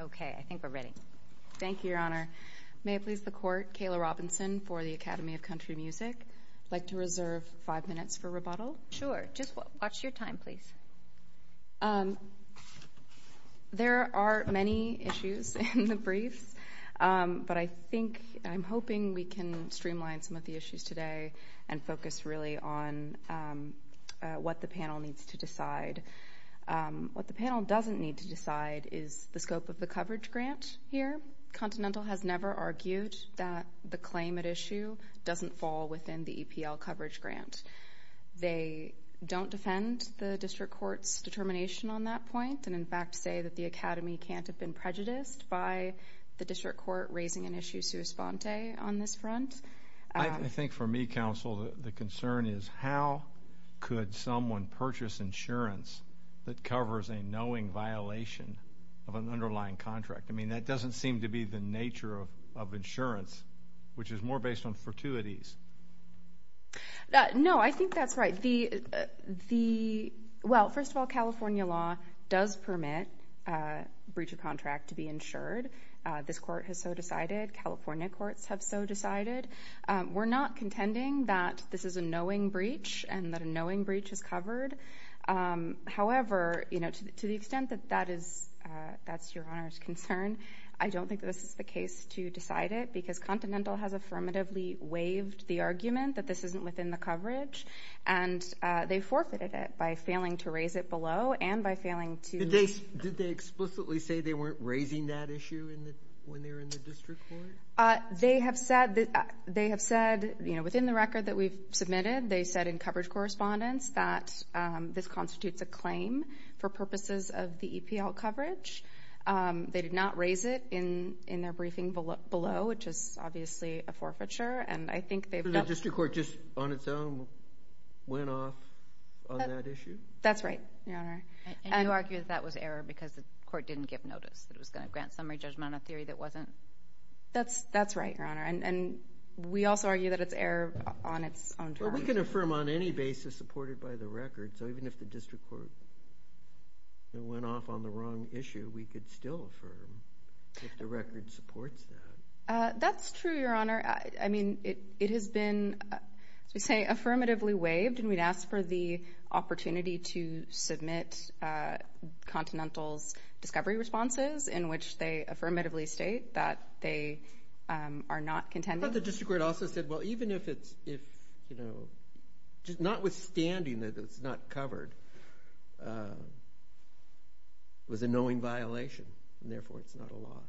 Okay, I think we're ready. Thank you, Your Honor. May it please the Court, Kayla Robinson for the Academy of Country Music. I'd like to reserve five minutes for rebuttal. Sure, just watch your time, please. There are many issues in the briefs, but I'm hoping we can streamline some of the issues today and focus really on what the panel needs to decide. What the panel doesn't need to decide is the scope of the coverage grant here. Continental has never argued that the claim at issue doesn't fall within the EPL coverage grant. They don't defend the District Court's determination on that point and, in fact, say that the Academy can't have been prejudiced by the District Court raising an issue sui sponte on this front. I think for me, Counsel, the concern is how could someone purchase insurance that covers a knowing violation of an underlying contract? I mean, that doesn't seem to be the nature of insurance, which is more based on fortuities. No, I think that's right. Well, first of all, California law does permit a breach of contract to be insured. This Court has so decided. California courts have so decided. We're not contending that this is a knowing breach and that a knowing breach is covered. However, to the extent that that's Your Honor's concern, I don't think this is the case to decide it is the argument that this isn't within the coverage, and they forfeited it by failing to raise it below and by failing to Did they explicitly say they weren't raising that issue when they were in the District Court? They have said within the record that we've submitted, they said in coverage correspondence that this constitutes a claim for purposes of the EPL coverage. They did not raise it in their briefing below, which is obviously a forfeiture, and I think they've So the District Court just on its own went off on that issue? That's right, Your Honor. And you argue that that was error because the Court didn't give notice that it was going to grant summary judgment on a theory that wasn't That's right, Your Honor, and we also argue that it's error on its own terms. Well, we can affirm on any basis supported by the record, so even if the District Court went off on the wrong issue, we could still affirm if the record supports that. That's true, Your Honor. I mean, it has been, as we say, affirmatively waived, and we'd ask for the opportunity to submit Continental's discovery responses in which they affirmatively state that they are not contending I thought the District Court also said, well, even if it's, you know, notwithstanding that it's not covered, it was a knowing violation, and therefore it's not a loss.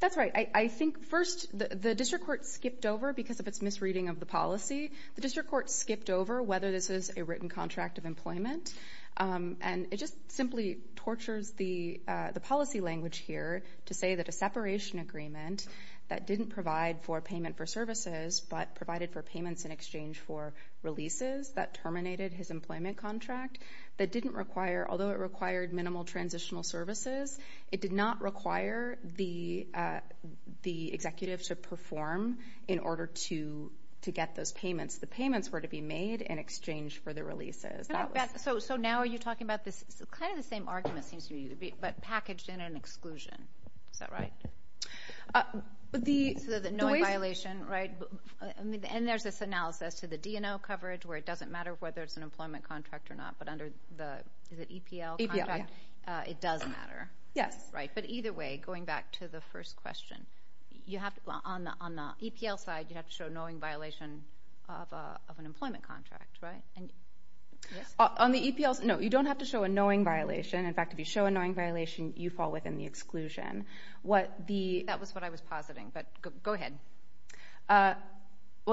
That's right. I think, first, the District Court skipped over because of its misreading of the policy. The District Court skipped over whether this is a written contract of employment, and it just simply tortures the policy language here to say that a separation agreement that didn't provide for payment for services, but provided for payments in exchange for releases that terminated his employment contract, that didn't require, although it required minimal transitional services, it did not require the executive to perform in order to get those payments. The payments were to be made in exchange for the releases. So now are you talking about this? It's kind of the same argument, it seems to me, but packaged in an exclusion. Is that right? So the knowing violation, right? And there's this analysis to the D&O coverage where it doesn't matter whether it's an employment contract or not, but under the, is it EPL contract? Yeah. It does matter. Yes. But either way, going back to the first question, on the EPL side, you have to show a knowing violation of an employment contract, right? On the EPL, no, you don't have to show a knowing violation. In fact, if you show a knowing violation, you fall within the exclusion. That was what I was positing, but go ahead. Well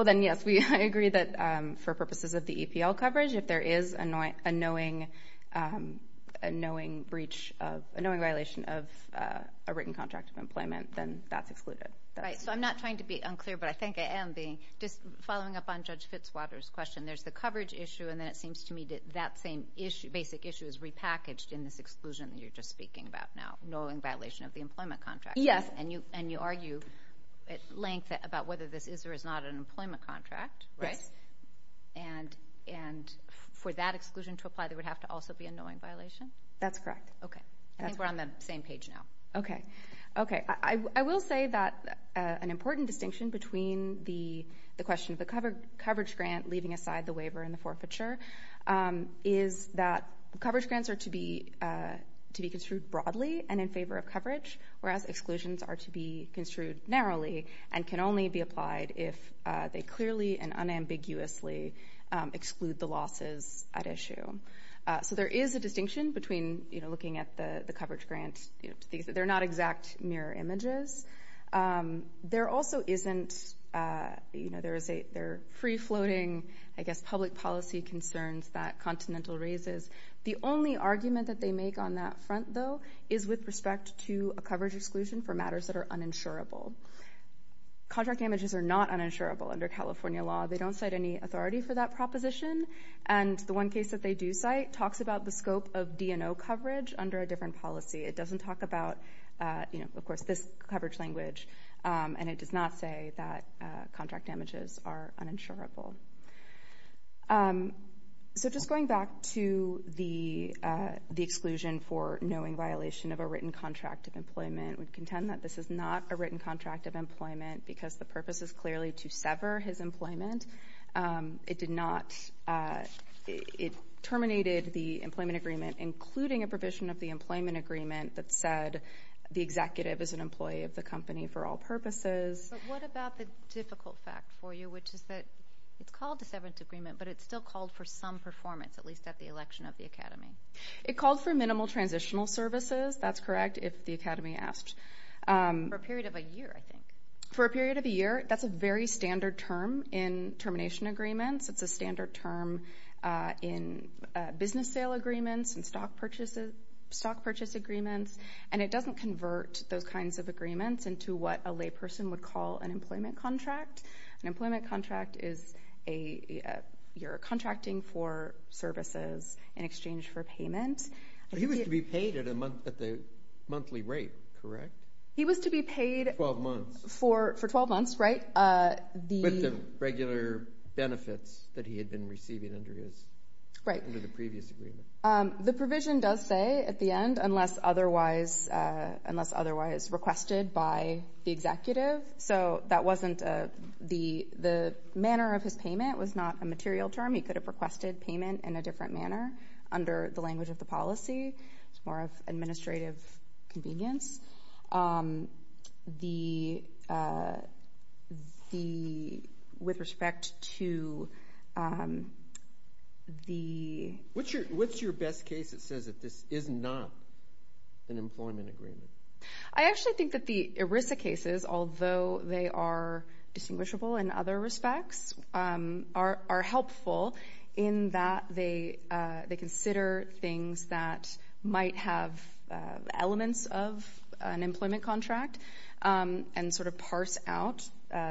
then, yes, I agree that for purposes of the EPL coverage, if there is a knowing violation of a written contract of employment, then that's excluded. Right, so I'm not trying to be unclear, but I think I am being, just following up on Judge Fitzwater's question, there's the coverage issue, and then it seems to me that that same basic issue is repackaged in this exclusion that you're just speaking about now, knowing violation of the employment contract. Yes. And you argue at length about whether this is or is not an employment contract, right? Yes. And for that exclusion to apply, there would have to also be a knowing violation? That's correct. Okay. I think we're on the same page now. Okay. Okay. I will say that an important distinction between the question of the coverage grant leaving aside the waiver and the forfeiture is that coverage grants are to be construed broadly and in favor of coverage, whereas exclusions are to be construed narrowly and can only be applied if they clearly and unambiguously exclude the losses at issue. So there is a distinction between, you know, looking at the coverage grant. They're not exact mirror images. There also isn't, you know, there is a free-floating, I guess, public policy concerns that Continental raises. The only argument that they make on that front, though, is with respect to a coverage exclusion for matters that are uninsurable. Contract images are not uninsurable under California law. They don't cite any authority for that proposition. And the one case that they do cite talks about the scope of D&O coverage under a different policy. It doesn't talk about, you know, of course, this coverage language, and it does not say that contract images are uninsurable. So just going back to the exclusion for knowing violation of a written contract of employment, we contend that this is not a written contract of employment because the purpose is clearly to sever his employment. It did not. It terminated the employment agreement, including a provision of the employment agreement that said the executive is an employee of the company for all purposes. But what about the difficult fact for you, which is that it's called the severance agreement, but it's still called for some performance, at least at the election of the Academy? It called for minimal transitional services, that's correct, if the Academy asked. For a period of a year, I think. For a period of a year. That's a very standard term in termination agreements. It's a standard term in business sale agreements and stock purchase agreements. And it doesn't convert those kinds of agreements into what a layperson would call an employment contract. An employment contract is you're contracting for services in exchange for payment. He was to be paid at the monthly rate, correct? He was to be paid for 12 months, right? With the regular benefits that he had been receiving under the previous agreement. The provision does say at the end, unless otherwise requested by the executive. So that wasn't the manner of his payment was not a material term. He could have requested payment in a different manner under the language of the policy. It's more of administrative convenience. With respect to the. What's your best case that says that this is not an employment agreement? I actually think that the ERISA cases, although they are distinguishable in other respects, are helpful in that they consider things that might have elements of an employment contract. And sort of parse out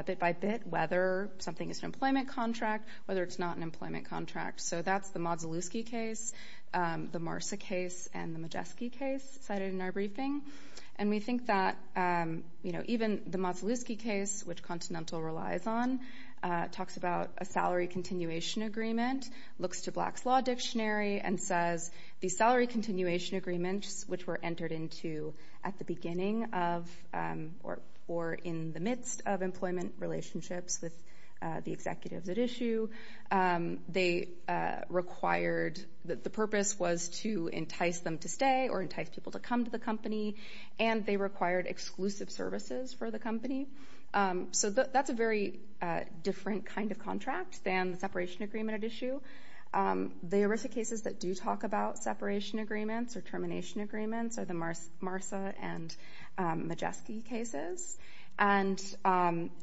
bit by bit, whether something is an employment contract, whether it's not an employment contract. So that's the Maslow's key case. The Marcia case and the majestic case cited in our briefing. And we think that, you know, even the Maslow's key case, which Continental relies on, talks about a salary continuation agreement, looks to Black's Law Dictionary and says the salary continuation agreements, which were entered into at the beginning of or or in the midst of employment relationships with the executives at issue. They required that the purpose was to entice them to stay or entice people to come to the company, and they required exclusive services for the company. So that's a very different kind of contract than the separation agreement at issue. The ERISA cases that do talk about separation agreements or termination agreements are the Marcia and majestic cases. And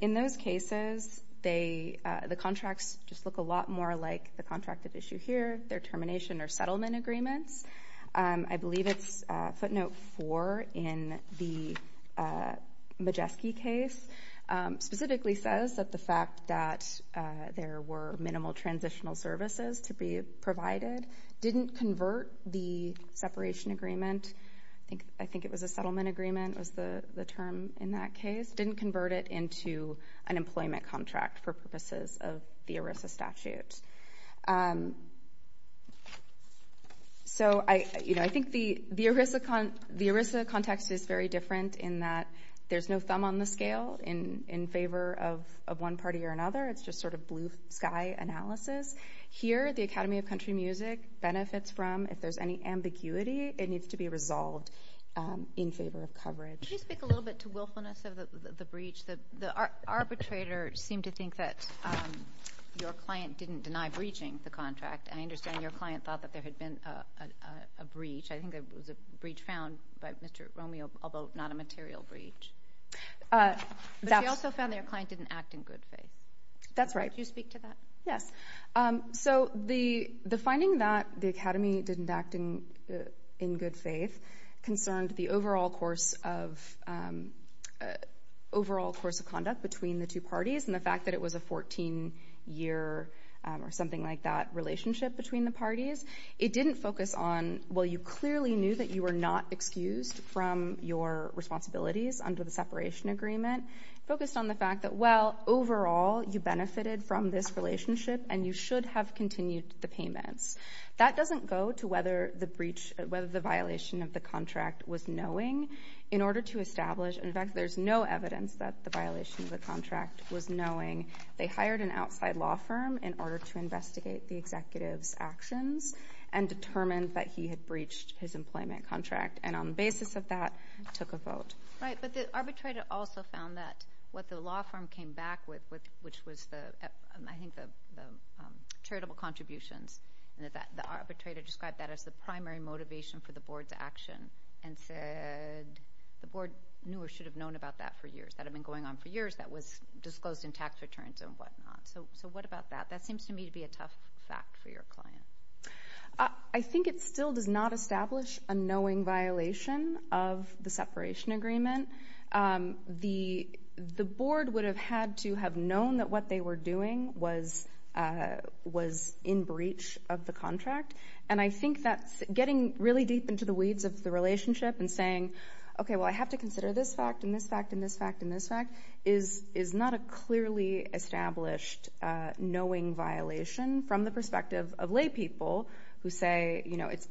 in those cases, they the contracts just look a lot more like the contracted issue here. Their termination or settlement agreements. I believe it's footnote four in the majestic case specifically says that the fact that there were minimal transitional services to be provided didn't convert the separation agreement. I think it was a settlement agreement was the term in that case. Didn't convert it into an employment contract for purposes of the ERISA statute. So I think the ERISA context is very different in that there's no thumb on the scale in favor of one party or another. It's just sort of blue sky analysis. Here, the Academy of Country Music benefits from, if there's any ambiguity, it needs to be resolved in favor of coverage. Could you speak a little bit to willfulness of the breach? The arbitrator seemed to think that your client didn't deny breaching the contract. I understand your client thought that there had been a breach. I think it was a breach found by Mr. Romeo, although not a material breach. But she also found that your client didn't act in good faith. That's right. Could you speak to that? Yes. So the finding that the Academy didn't act in good faith concerned the overall course of conduct between the two parties. And the fact that it was a 14-year or something like that relationship between the parties. It didn't focus on, well, you clearly knew that you were not excused from your responsibilities under the separation agreement. It focused on the fact that, well, overall, you benefited from this relationship and you should have continued the payments. That doesn't go to whether the violation of the contract was knowing. In fact, there's no evidence that the violation of the contract was knowing. They hired an outside law firm in order to investigate the executive's actions and determined that he had breached his employment contract. And on the basis of that, took a vote. Right. But the arbitrator also found that what the law firm came back with, which was, I think, the charitable contributions, the arbitrator described that as the primary motivation for the board's action and said the board knew or should have known about that for years. That had been going on for years. That was disclosed in tax returns and whatnot. So what about that? That seems to me to be a tough fact for your client. I think it still does not establish a knowing violation of the separation agreement. The board would have had to have known that what they were doing was in breach of the contract. And I think that's getting really deep into the weeds of the relationship and saying, OK, well, I have to consider this fact and this fact and this fact and this fact is not a clearly established knowing violation from the perspective of lay people who say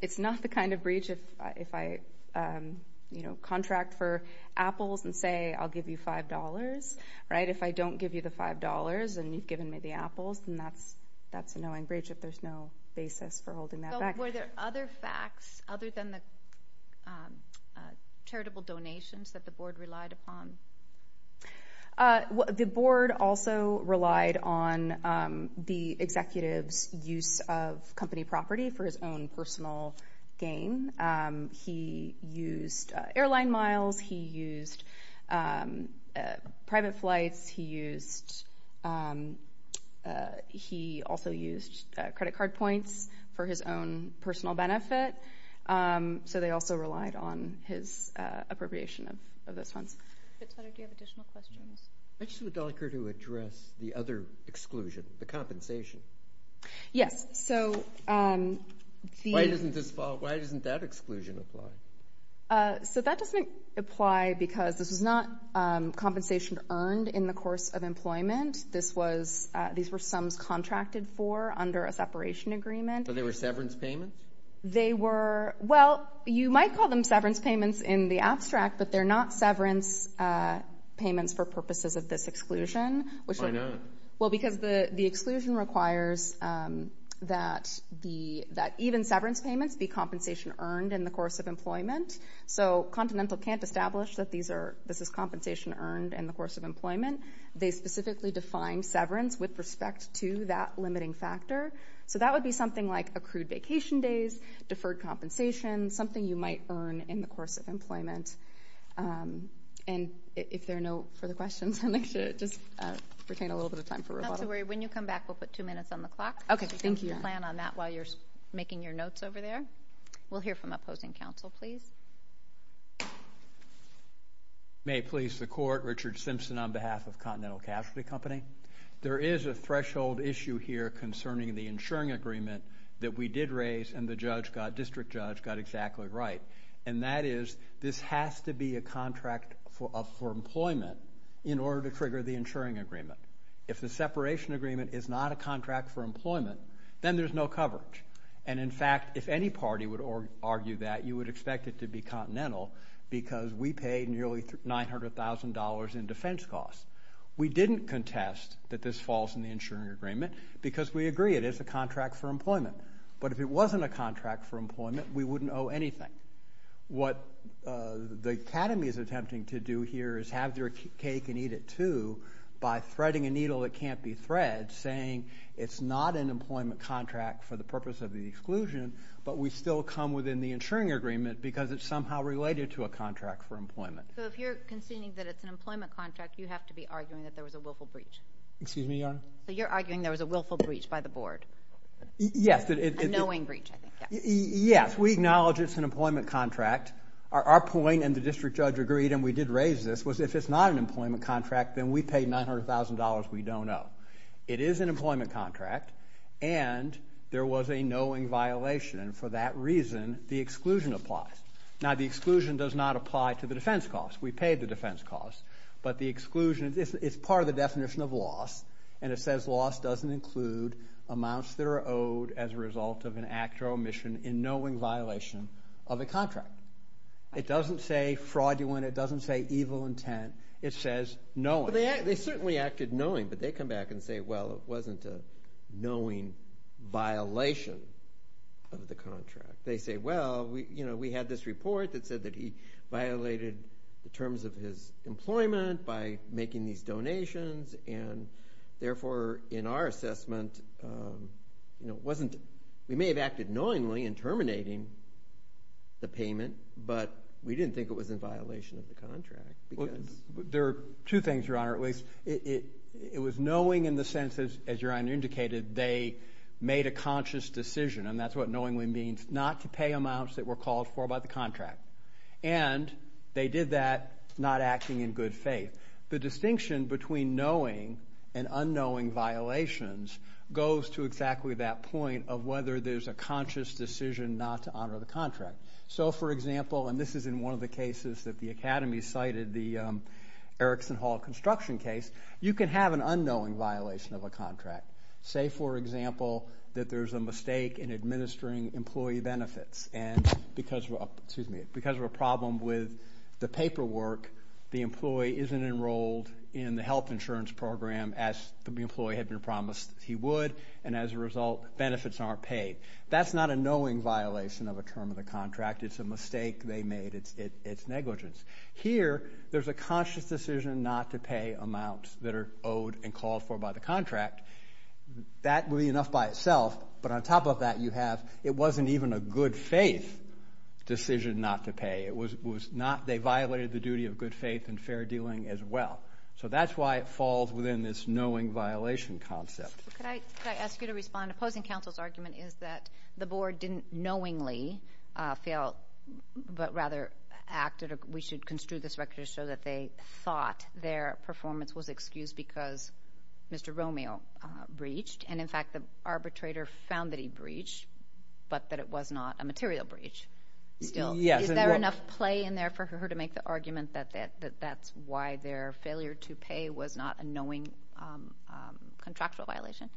it's not the kind of breach if I contract for apples and say I'll give you $5. If I don't give you the $5 and you've given me the apples, then that's a knowing breach if there's no basis for holding that back. Were there other facts other than the charitable donations that the board relied upon? The board also relied on the executive's use of company property for his own personal gain. He used airline miles. He used private flights. He also used credit card points for his own personal benefit. So they also relied on his appropriation of those funds. Fitzhutter, do you have additional questions? I just would like her to address the other exclusion, the compensation. Yes. Why doesn't that exclusion apply? So that doesn't apply because this is not compensation earned in the course of employment. These were sums contracted for under a separation agreement. So they were severance payments? Well, you might call them severance payments in the abstract, but they're not severance payments for purposes of this exclusion. Why not? Well, because the exclusion requires that even severance payments be compensation earned in the course of employment. So Continental can't establish that this is compensation earned in the course of employment. They specifically define severance with respect to that limiting factor. So that would be something like accrued vacation days, deferred compensation, something you might earn in the course of employment. And if there are no further questions, I'd like to just retain a little bit of time for rebuttal. Not to worry. When you come back, we'll put two minutes on the clock. Okay. Thank you. So you can plan on that while you're making your notes over there. We'll hear from opposing counsel, please. May it please the Court, Richard Simpson on behalf of Continental Casualty Company. There is a threshold issue here concerning the insuring agreement that we did raise and the district judge got exactly right, and that is this has to be a contract for employment in order to trigger the insuring agreement. If the separation agreement is not a contract for employment, then there's no coverage. And, in fact, if any party would argue that, you would expect it to be Continental because we paid nearly $900,000 in defense costs. We didn't contest that this falls in the insuring agreement because we agree it is a contract for employment. But if it wasn't a contract for employment, we wouldn't owe anything. What the academy is attempting to do here is have their cake and eat it, too, by threading a needle that can't be thread, saying it's not an employment contract for the purpose of the exclusion, but we still come within the insuring agreement because it's somehow related to a contract for employment. So if you're conceding that it's an employment contract, you have to be arguing that there was a willful breach? Excuse me, Your Honor? Yes. A knowing breach, I think, yes. Yes, we acknowledge it's an employment contract. Our point, and the district judge agreed, and we did raise this, was if it's not an employment contract, then we pay $900,000 we don't owe. It is an employment contract, and there was a knowing violation, and for that reason, the exclusion applies. Now, the exclusion does not apply to the defense costs. We paid the defense costs, but the exclusion is part of the definition of loss, and it says loss doesn't include amounts that are owed as a result of an act or omission in knowing violation of a contract. It doesn't say fraudulent. It doesn't say evil intent. It says knowing. They certainly acted knowing, but they come back and say, well, it wasn't a knowing violation of the contract. They say, well, you know, we had this report that said that he violated the terms of his employment by making these donations, and therefore, in our assessment, you know, it wasn't. We may have acted knowingly in terminating the payment, but we didn't think it was in violation of the contract. There are two things, Your Honor, at least. It was knowing in the sense, as Your Honor indicated, they made a conscious decision, and that's what knowingly means, not to pay amounts that were called for by the contract, and they did that not acting in good faith. The distinction between knowing and unknowing violations goes to exactly that point of whether there's a conscious decision not to honor the contract. So, for example, and this is in one of the cases that the Academy cited, the Erickson Hall construction case. You can have an unknowing violation of a contract. Say, for example, that there's a mistake in administering employee benefits and because of a problem with the paperwork, the employee isn't enrolled in the health insurance program as the employee had been promised he would, and as a result, benefits aren't paid. That's not a knowing violation of a term of the contract. It's a mistake they made. It's negligence. Here, there's a conscious decision not to pay amounts that are owed and called for by the contract. That would be enough by itself, but on top of that, you have it wasn't even a good faith decision not to pay. It was not. They violated the duty of good faith and fair dealing as well. So that's why it falls within this knowing violation concept. Could I ask you to respond? Opposing counsel's argument is that the board didn't knowingly fail, but rather acted, we should construe this record to show that they thought their performance was excused because Mr. Romeo breached, and in fact the arbitrator found that he breached, but that it was not a material breach. Is there enough play in there for her to make the argument that that's why their failure to pay was not a knowing contractual violation?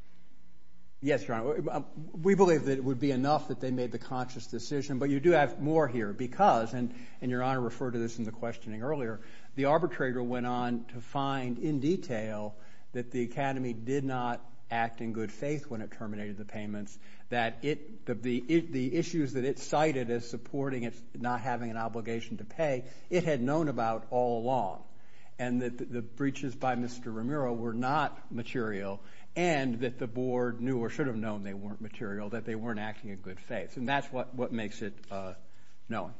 Yes, Your Honor. We believe that it would be enough that they made the conscious decision, but you do have more here because, and Your Honor referred to this in the questioning earlier, the arbitrator went on to find in detail that the academy did not act in good faith when it terminated the payments, that the issues that it cited as supporting its not having an obligation to pay it had known about all along, and that the breaches by Mr. Romero were not material, and that the board knew or should have known they weren't material, that they weren't acting in good faith. And that's what makes it knowing.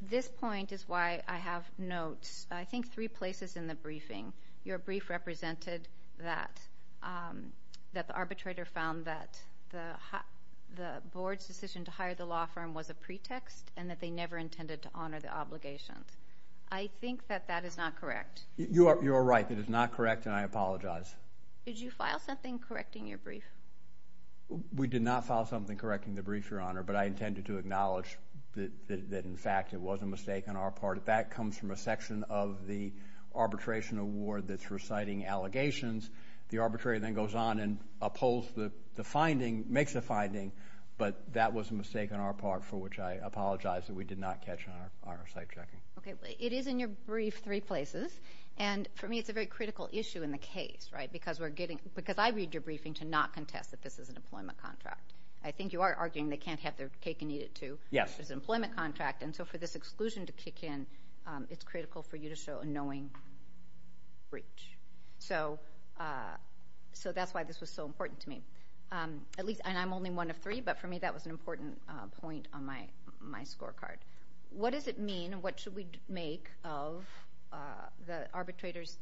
This point is why I have notes. I think three places in the briefing, your brief represented that the arbitrator found that the board's decision to hire the law firm was a pretext and that they never intended to honor the obligations. I think that that is not correct. You are right. It is not correct, and I apologize. Did you file something correcting your brief? We did not file something correcting the brief, Your Honor, but I intended to acknowledge that, in fact, it was a mistake on our part. That comes from a section of the arbitration award that's reciting allegations. The arbitrator then goes on and upholds the finding, makes a finding, but that was a mistake on our part for which I apologize that we did not catch on our site checking. Okay. It is in your brief three places, and for me it's a very critical issue in the case, right, because I read your briefing to not contest that this is an employment contract. I think you are arguing they can't have their cake and eat it, too. Yes. It's an employment contract, and so for this exclusion to kick in, it's critical for you to show a knowing breach. So that's why this was so important to me, and I'm only one of three, but for me that was an important point on my scorecard. What does it mean? What should we make of the arbitrator's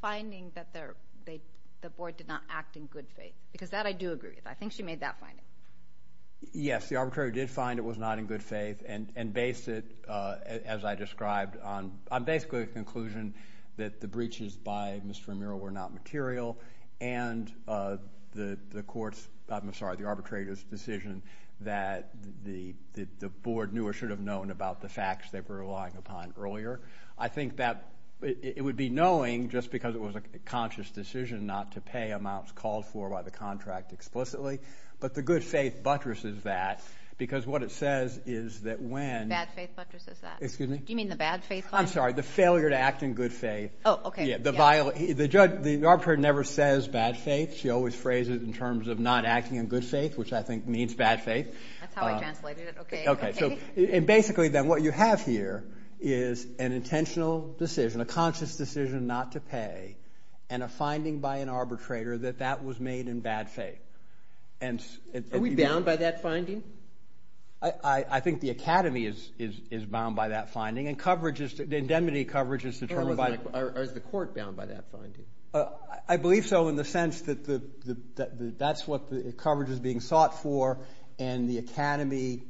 finding that the board did not act in good faith? Because that I do agree with. I think she made that finding. Yes, the arbitrator did find it was not in good faith and based it, as I described, on basically a conclusion that the breaches by Mr. Romero were not material and the arbitrator's decision that the board knew or should have known about the facts they were relying upon earlier. I think that it would be knowing just because it was a conscious decision not to pay amounts called for by the contract explicitly, but the good faith buttresses that because what it says is that when— Bad faith buttresses that? Excuse me? Do you mean the bad faith? I'm sorry, the failure to act in good faith. Oh, okay. The arbitrator never says bad faith. She always phrases it in terms of not acting in good faith, which I think means bad faith. That's how I translated it. Okay. Okay. And basically then what you have here is an intentional decision, a conscious decision not to pay, and a finding by an arbitrator that that was made in bad faith. Are we bound by that finding? Or is the court bound by that finding? I believe so in the sense that that's what the coverage is being sought for and the academy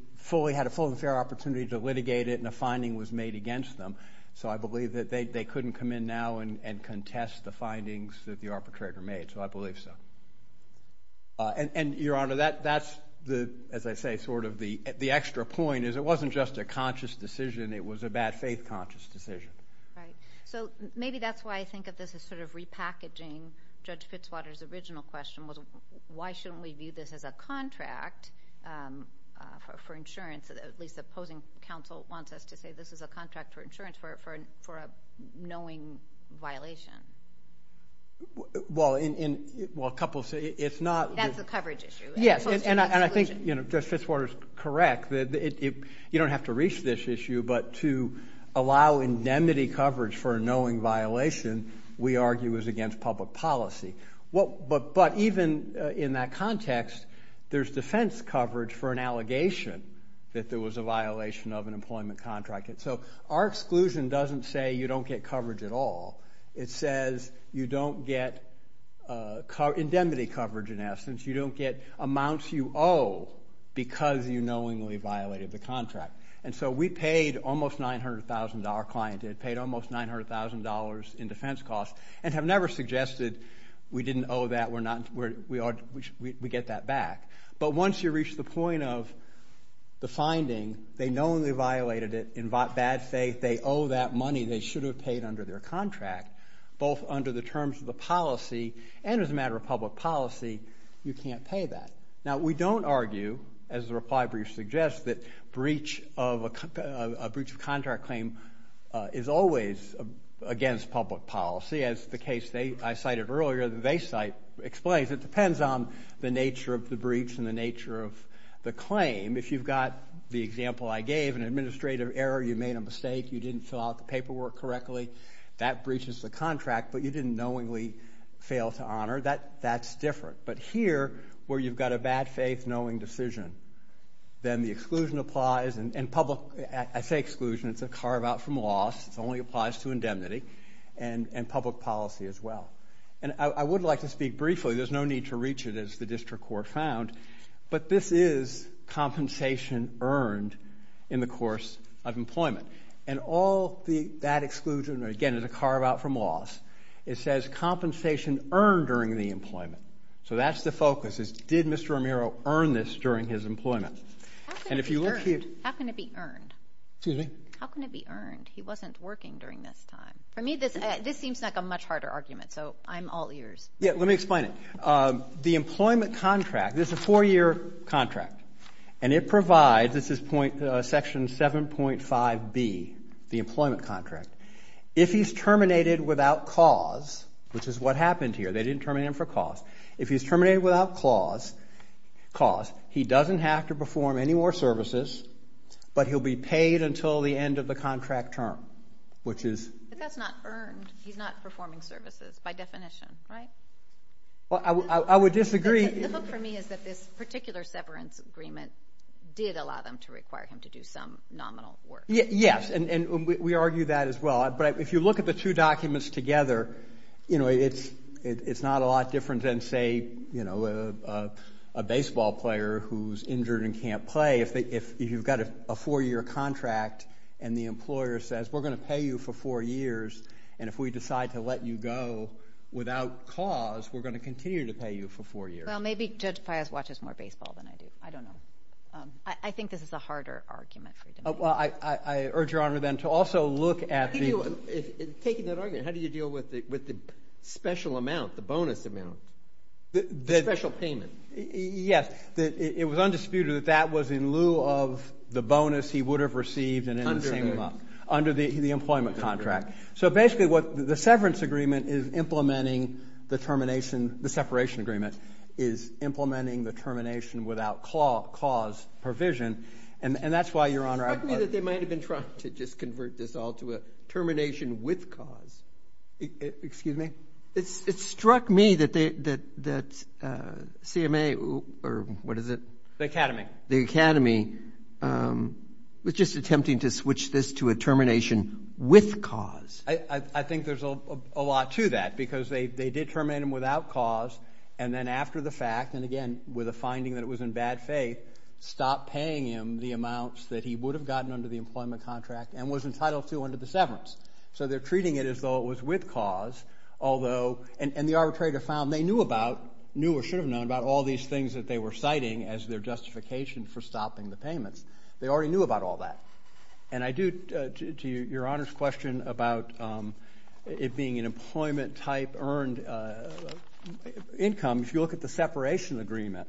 had a full and fair opportunity to litigate it, and a finding was made against them. So I believe that they couldn't come in now and contest the findings that the arbitrator made, so I believe so. And, Your Honor, that's, as I say, sort of the extra point is it wasn't just a conscious decision. It was a bad faith conscious decision. Right. So maybe that's why I think of this as sort of repackaging Judge Fitzwater's original question was why shouldn't we view this as a contract for insurance? At least the opposing counsel wants us to say this is a contract for insurance for a knowing violation. Well, a couple of things. It's not. That's the coverage issue. Yes, and I think Judge Fitzwater is correct. You don't have to reach this issue, but to allow indemnity coverage for a knowing violation we argue is against public policy. But even in that context, there's defense coverage for an allegation that there was a violation of an employment contract. So our exclusion doesn't say you don't get coverage at all. It says you don't get indemnity coverage in essence. You don't get amounts you owe because you knowingly violated the contract. And so we paid almost $900,000, our client did, paid almost $900,000 in defense costs and have never suggested we didn't owe that, we get that back. But once you reach the point of the finding, they knowingly violated it in bad faith, they owe that money, they should have paid under their contract both under the terms of the policy and as a matter of public policy, you can't pay that. Now, we don't argue, as the reply brief suggests, that a breach of contract claim is always against public policy. As the case I cited earlier that they cite explains, it depends on the nature of the breach and the nature of the claim. If you've got the example I gave, an administrative error, you made a mistake, you didn't fill out the paperwork correctly, that breaches the contract, but you didn't knowingly fail to honor. That's different. But here, where you've got a bad faith knowing decision, then the exclusion applies and public, I say exclusion, it's a carve out from loss, it only applies to indemnity and public policy as well. And I would like to speak briefly, there's no need to reach it as the district court found, but this is compensation earned in the course of employment. And all that exclusion, again, is a carve out from loss. It says compensation earned during the employment. So that's the focus, is did Mr. Romero earn this during his employment? How can it be earned? How can it be earned? Excuse me? How can it be earned? He wasn't working during this time. For me, this seems like a much harder argument, so I'm all ears. Yeah, let me explain it. The employment contract, this is a four-year contract, and it provides, this is section 7.5B, the employment contract. If he's terminated without cause, which is what happened here, they didn't terminate him for cause. If he's terminated without cause, he doesn't have to perform any more services, but he'll be paid until the end of the contract term, which is... But that's not earned. He's not performing services by definition, right? Well, I would disagree. The hook for me is that this particular severance agreement did allow them to require him to do some nominal work. Yes, and we argue that as well, but if you look at the two documents together, it's not a lot different than, say, a baseball player who's injured and can't play. If you've got a four-year contract and the employer says, we're going to pay you for four years, and if we decide to let you go without cause, we're going to continue to pay you for four years. Well, maybe Judge Fias watches more baseball than I do. I don't know. I think this is a harder argument for you to make. Well, I urge Your Honor then to also look at the... Taking that argument, how do you deal with the special amount, the bonus amount, the special payment? Yes, it was undisputed that that was in lieu of the bonus he would have received in the same month. Under the... Under the employment contract. So basically what the severance agreement is implementing the termination... the separation agreement is implementing the termination without cause provision, and that's why, Your Honor. It struck me that they might have been trying to just convert this all to a termination with cause. Excuse me? It struck me that CMA or what is it? The Academy. The Academy was just attempting to switch this to a termination with cause. I think there's a lot to that because they did terminate him without cause, and then after the fact, and again with a finding that it was in bad faith, stopped paying him the amounts that he would have gotten under the employment contract and was entitled to under the severance. So they're treating it as though it was with cause, although... And the arbitrator found they knew about, knew or should have known, about all these things that they were citing as their justification for stopping the payments. They already knew about all that. And I do, to Your Honor's question about it being an employment-type earned income, if you look at the separation agreement,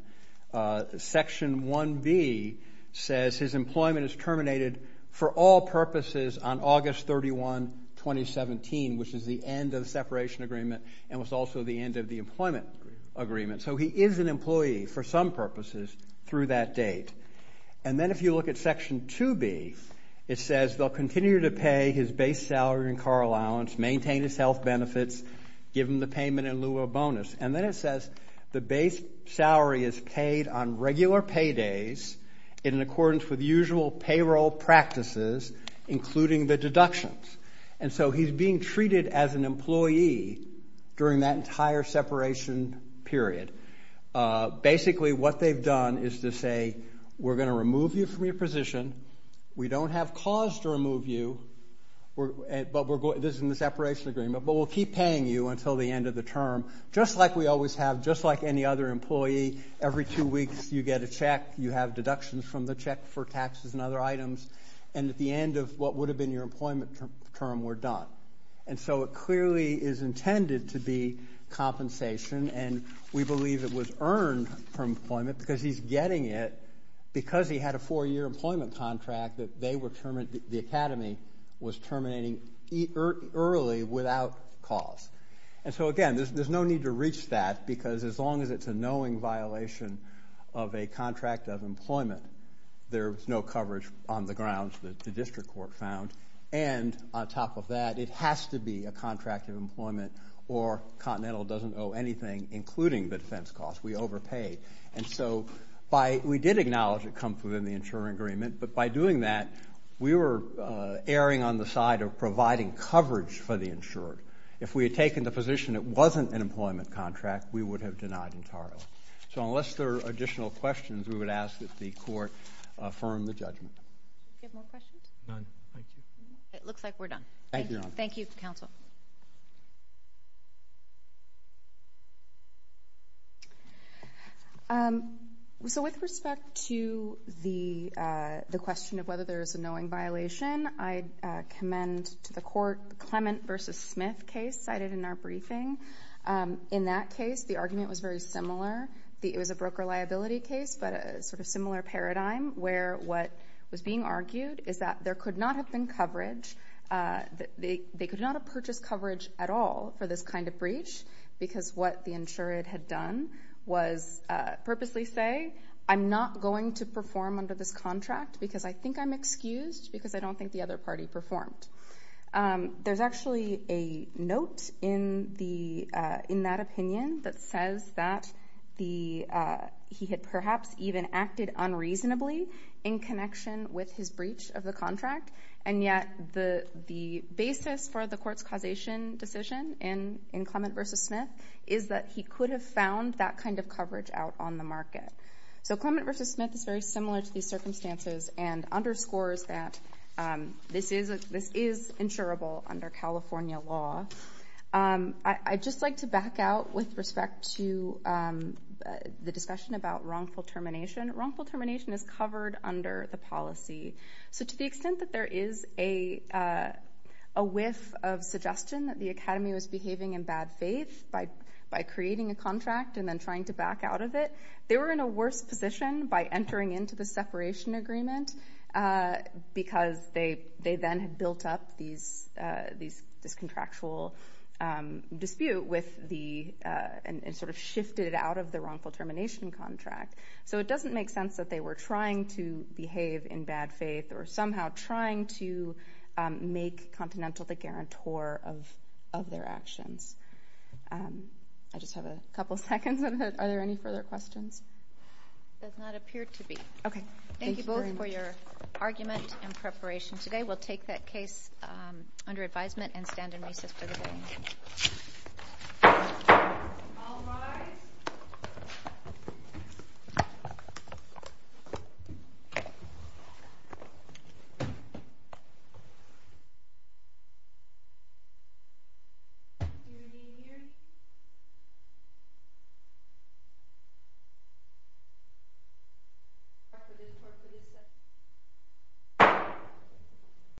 Section 1B says his employment is terminated for all purposes on August 31, 2017, which is the end of the separation agreement and was also the end of the employment agreement. So he is an employee for some purposes through that date. And then if you look at Section 2B, it says they'll continue to pay his base salary and car allowance, maintain his health benefits, give him the payment in lieu of a bonus. And then it says the base salary is paid on regular paydays in accordance with usual payroll practices, including the deductions. And so he's being treated as an employee during that entire separation period. Basically what they've done is to say, we're going to remove you from your position. We don't have cause to remove you. This is in the separation agreement, but we'll keep paying you until the end of the term, just like we always have, just like any other employee. Every two weeks you get a check. You have deductions from the check for taxes and other items. And at the end of what would have been your employment term, we're done. And so it clearly is intended to be compensation, and we believe it was earned from employment because he's getting it because he had a four-year employment contract that the academy was terminating early without cause. And so, again, there's no need to reach that because as long as it's a knowing violation of a contract of employment, there's no coverage on the grounds that the district court found. And on top of that, it has to be a contract of employment or Continental doesn't owe anything, including the defense cost. We overpaid. And so we did acknowledge it comes within the insurer agreement, but by doing that we were erring on the side of providing coverage for the insured. If we had taken the position it wasn't an employment contract, we would have denied entirely. So unless there are additional questions, we would ask that the court affirm the judgment. Do you have more questions? None. Thank you. It looks like we're done. Thank you, Your Honor. Thank you, counsel. So with respect to the question of whether there is a knowing violation, I commend to the court the Clement v. Smith case cited in our briefing. In that case, the argument was very similar. It was a broker liability case, but a sort of similar paradigm, where what was being argued is that there could not have been coverage. They could not have purchased coverage at all for this kind of breach, because what the insured had done was purposely say, I'm not going to perform under this contract because I think I'm excused, because I don't think the other party performed. There's actually a note in that opinion that says that he had perhaps even acted unreasonably in connection with his breach of the contract, and yet the basis for the court's causation decision in Clement v. Smith is that he could have found that kind of coverage out on the market. So Clement v. Smith is very similar to these circumstances and underscores that this is insurable under California law. I'd just like to back out with respect to the discussion about wrongful termination. Wrongful termination is covered under the policy. So to the extent that there is a whiff of suggestion that the Academy was behaving in bad faith by creating a contract and then trying to back out of it, they were in a worse position by entering into the separation agreement because they then had built up this contractual dispute and sort of shifted it out of the wrongful termination contract. So it doesn't make sense that they were trying to behave in bad faith or somehow trying to make Continental the guarantor of their actions. I just have a couple of seconds. Are there any further questions? There does not appear to be. Thank you both for your argument and preparation today. We'll take that case under advisement and stand in recess for the hearing. All rise.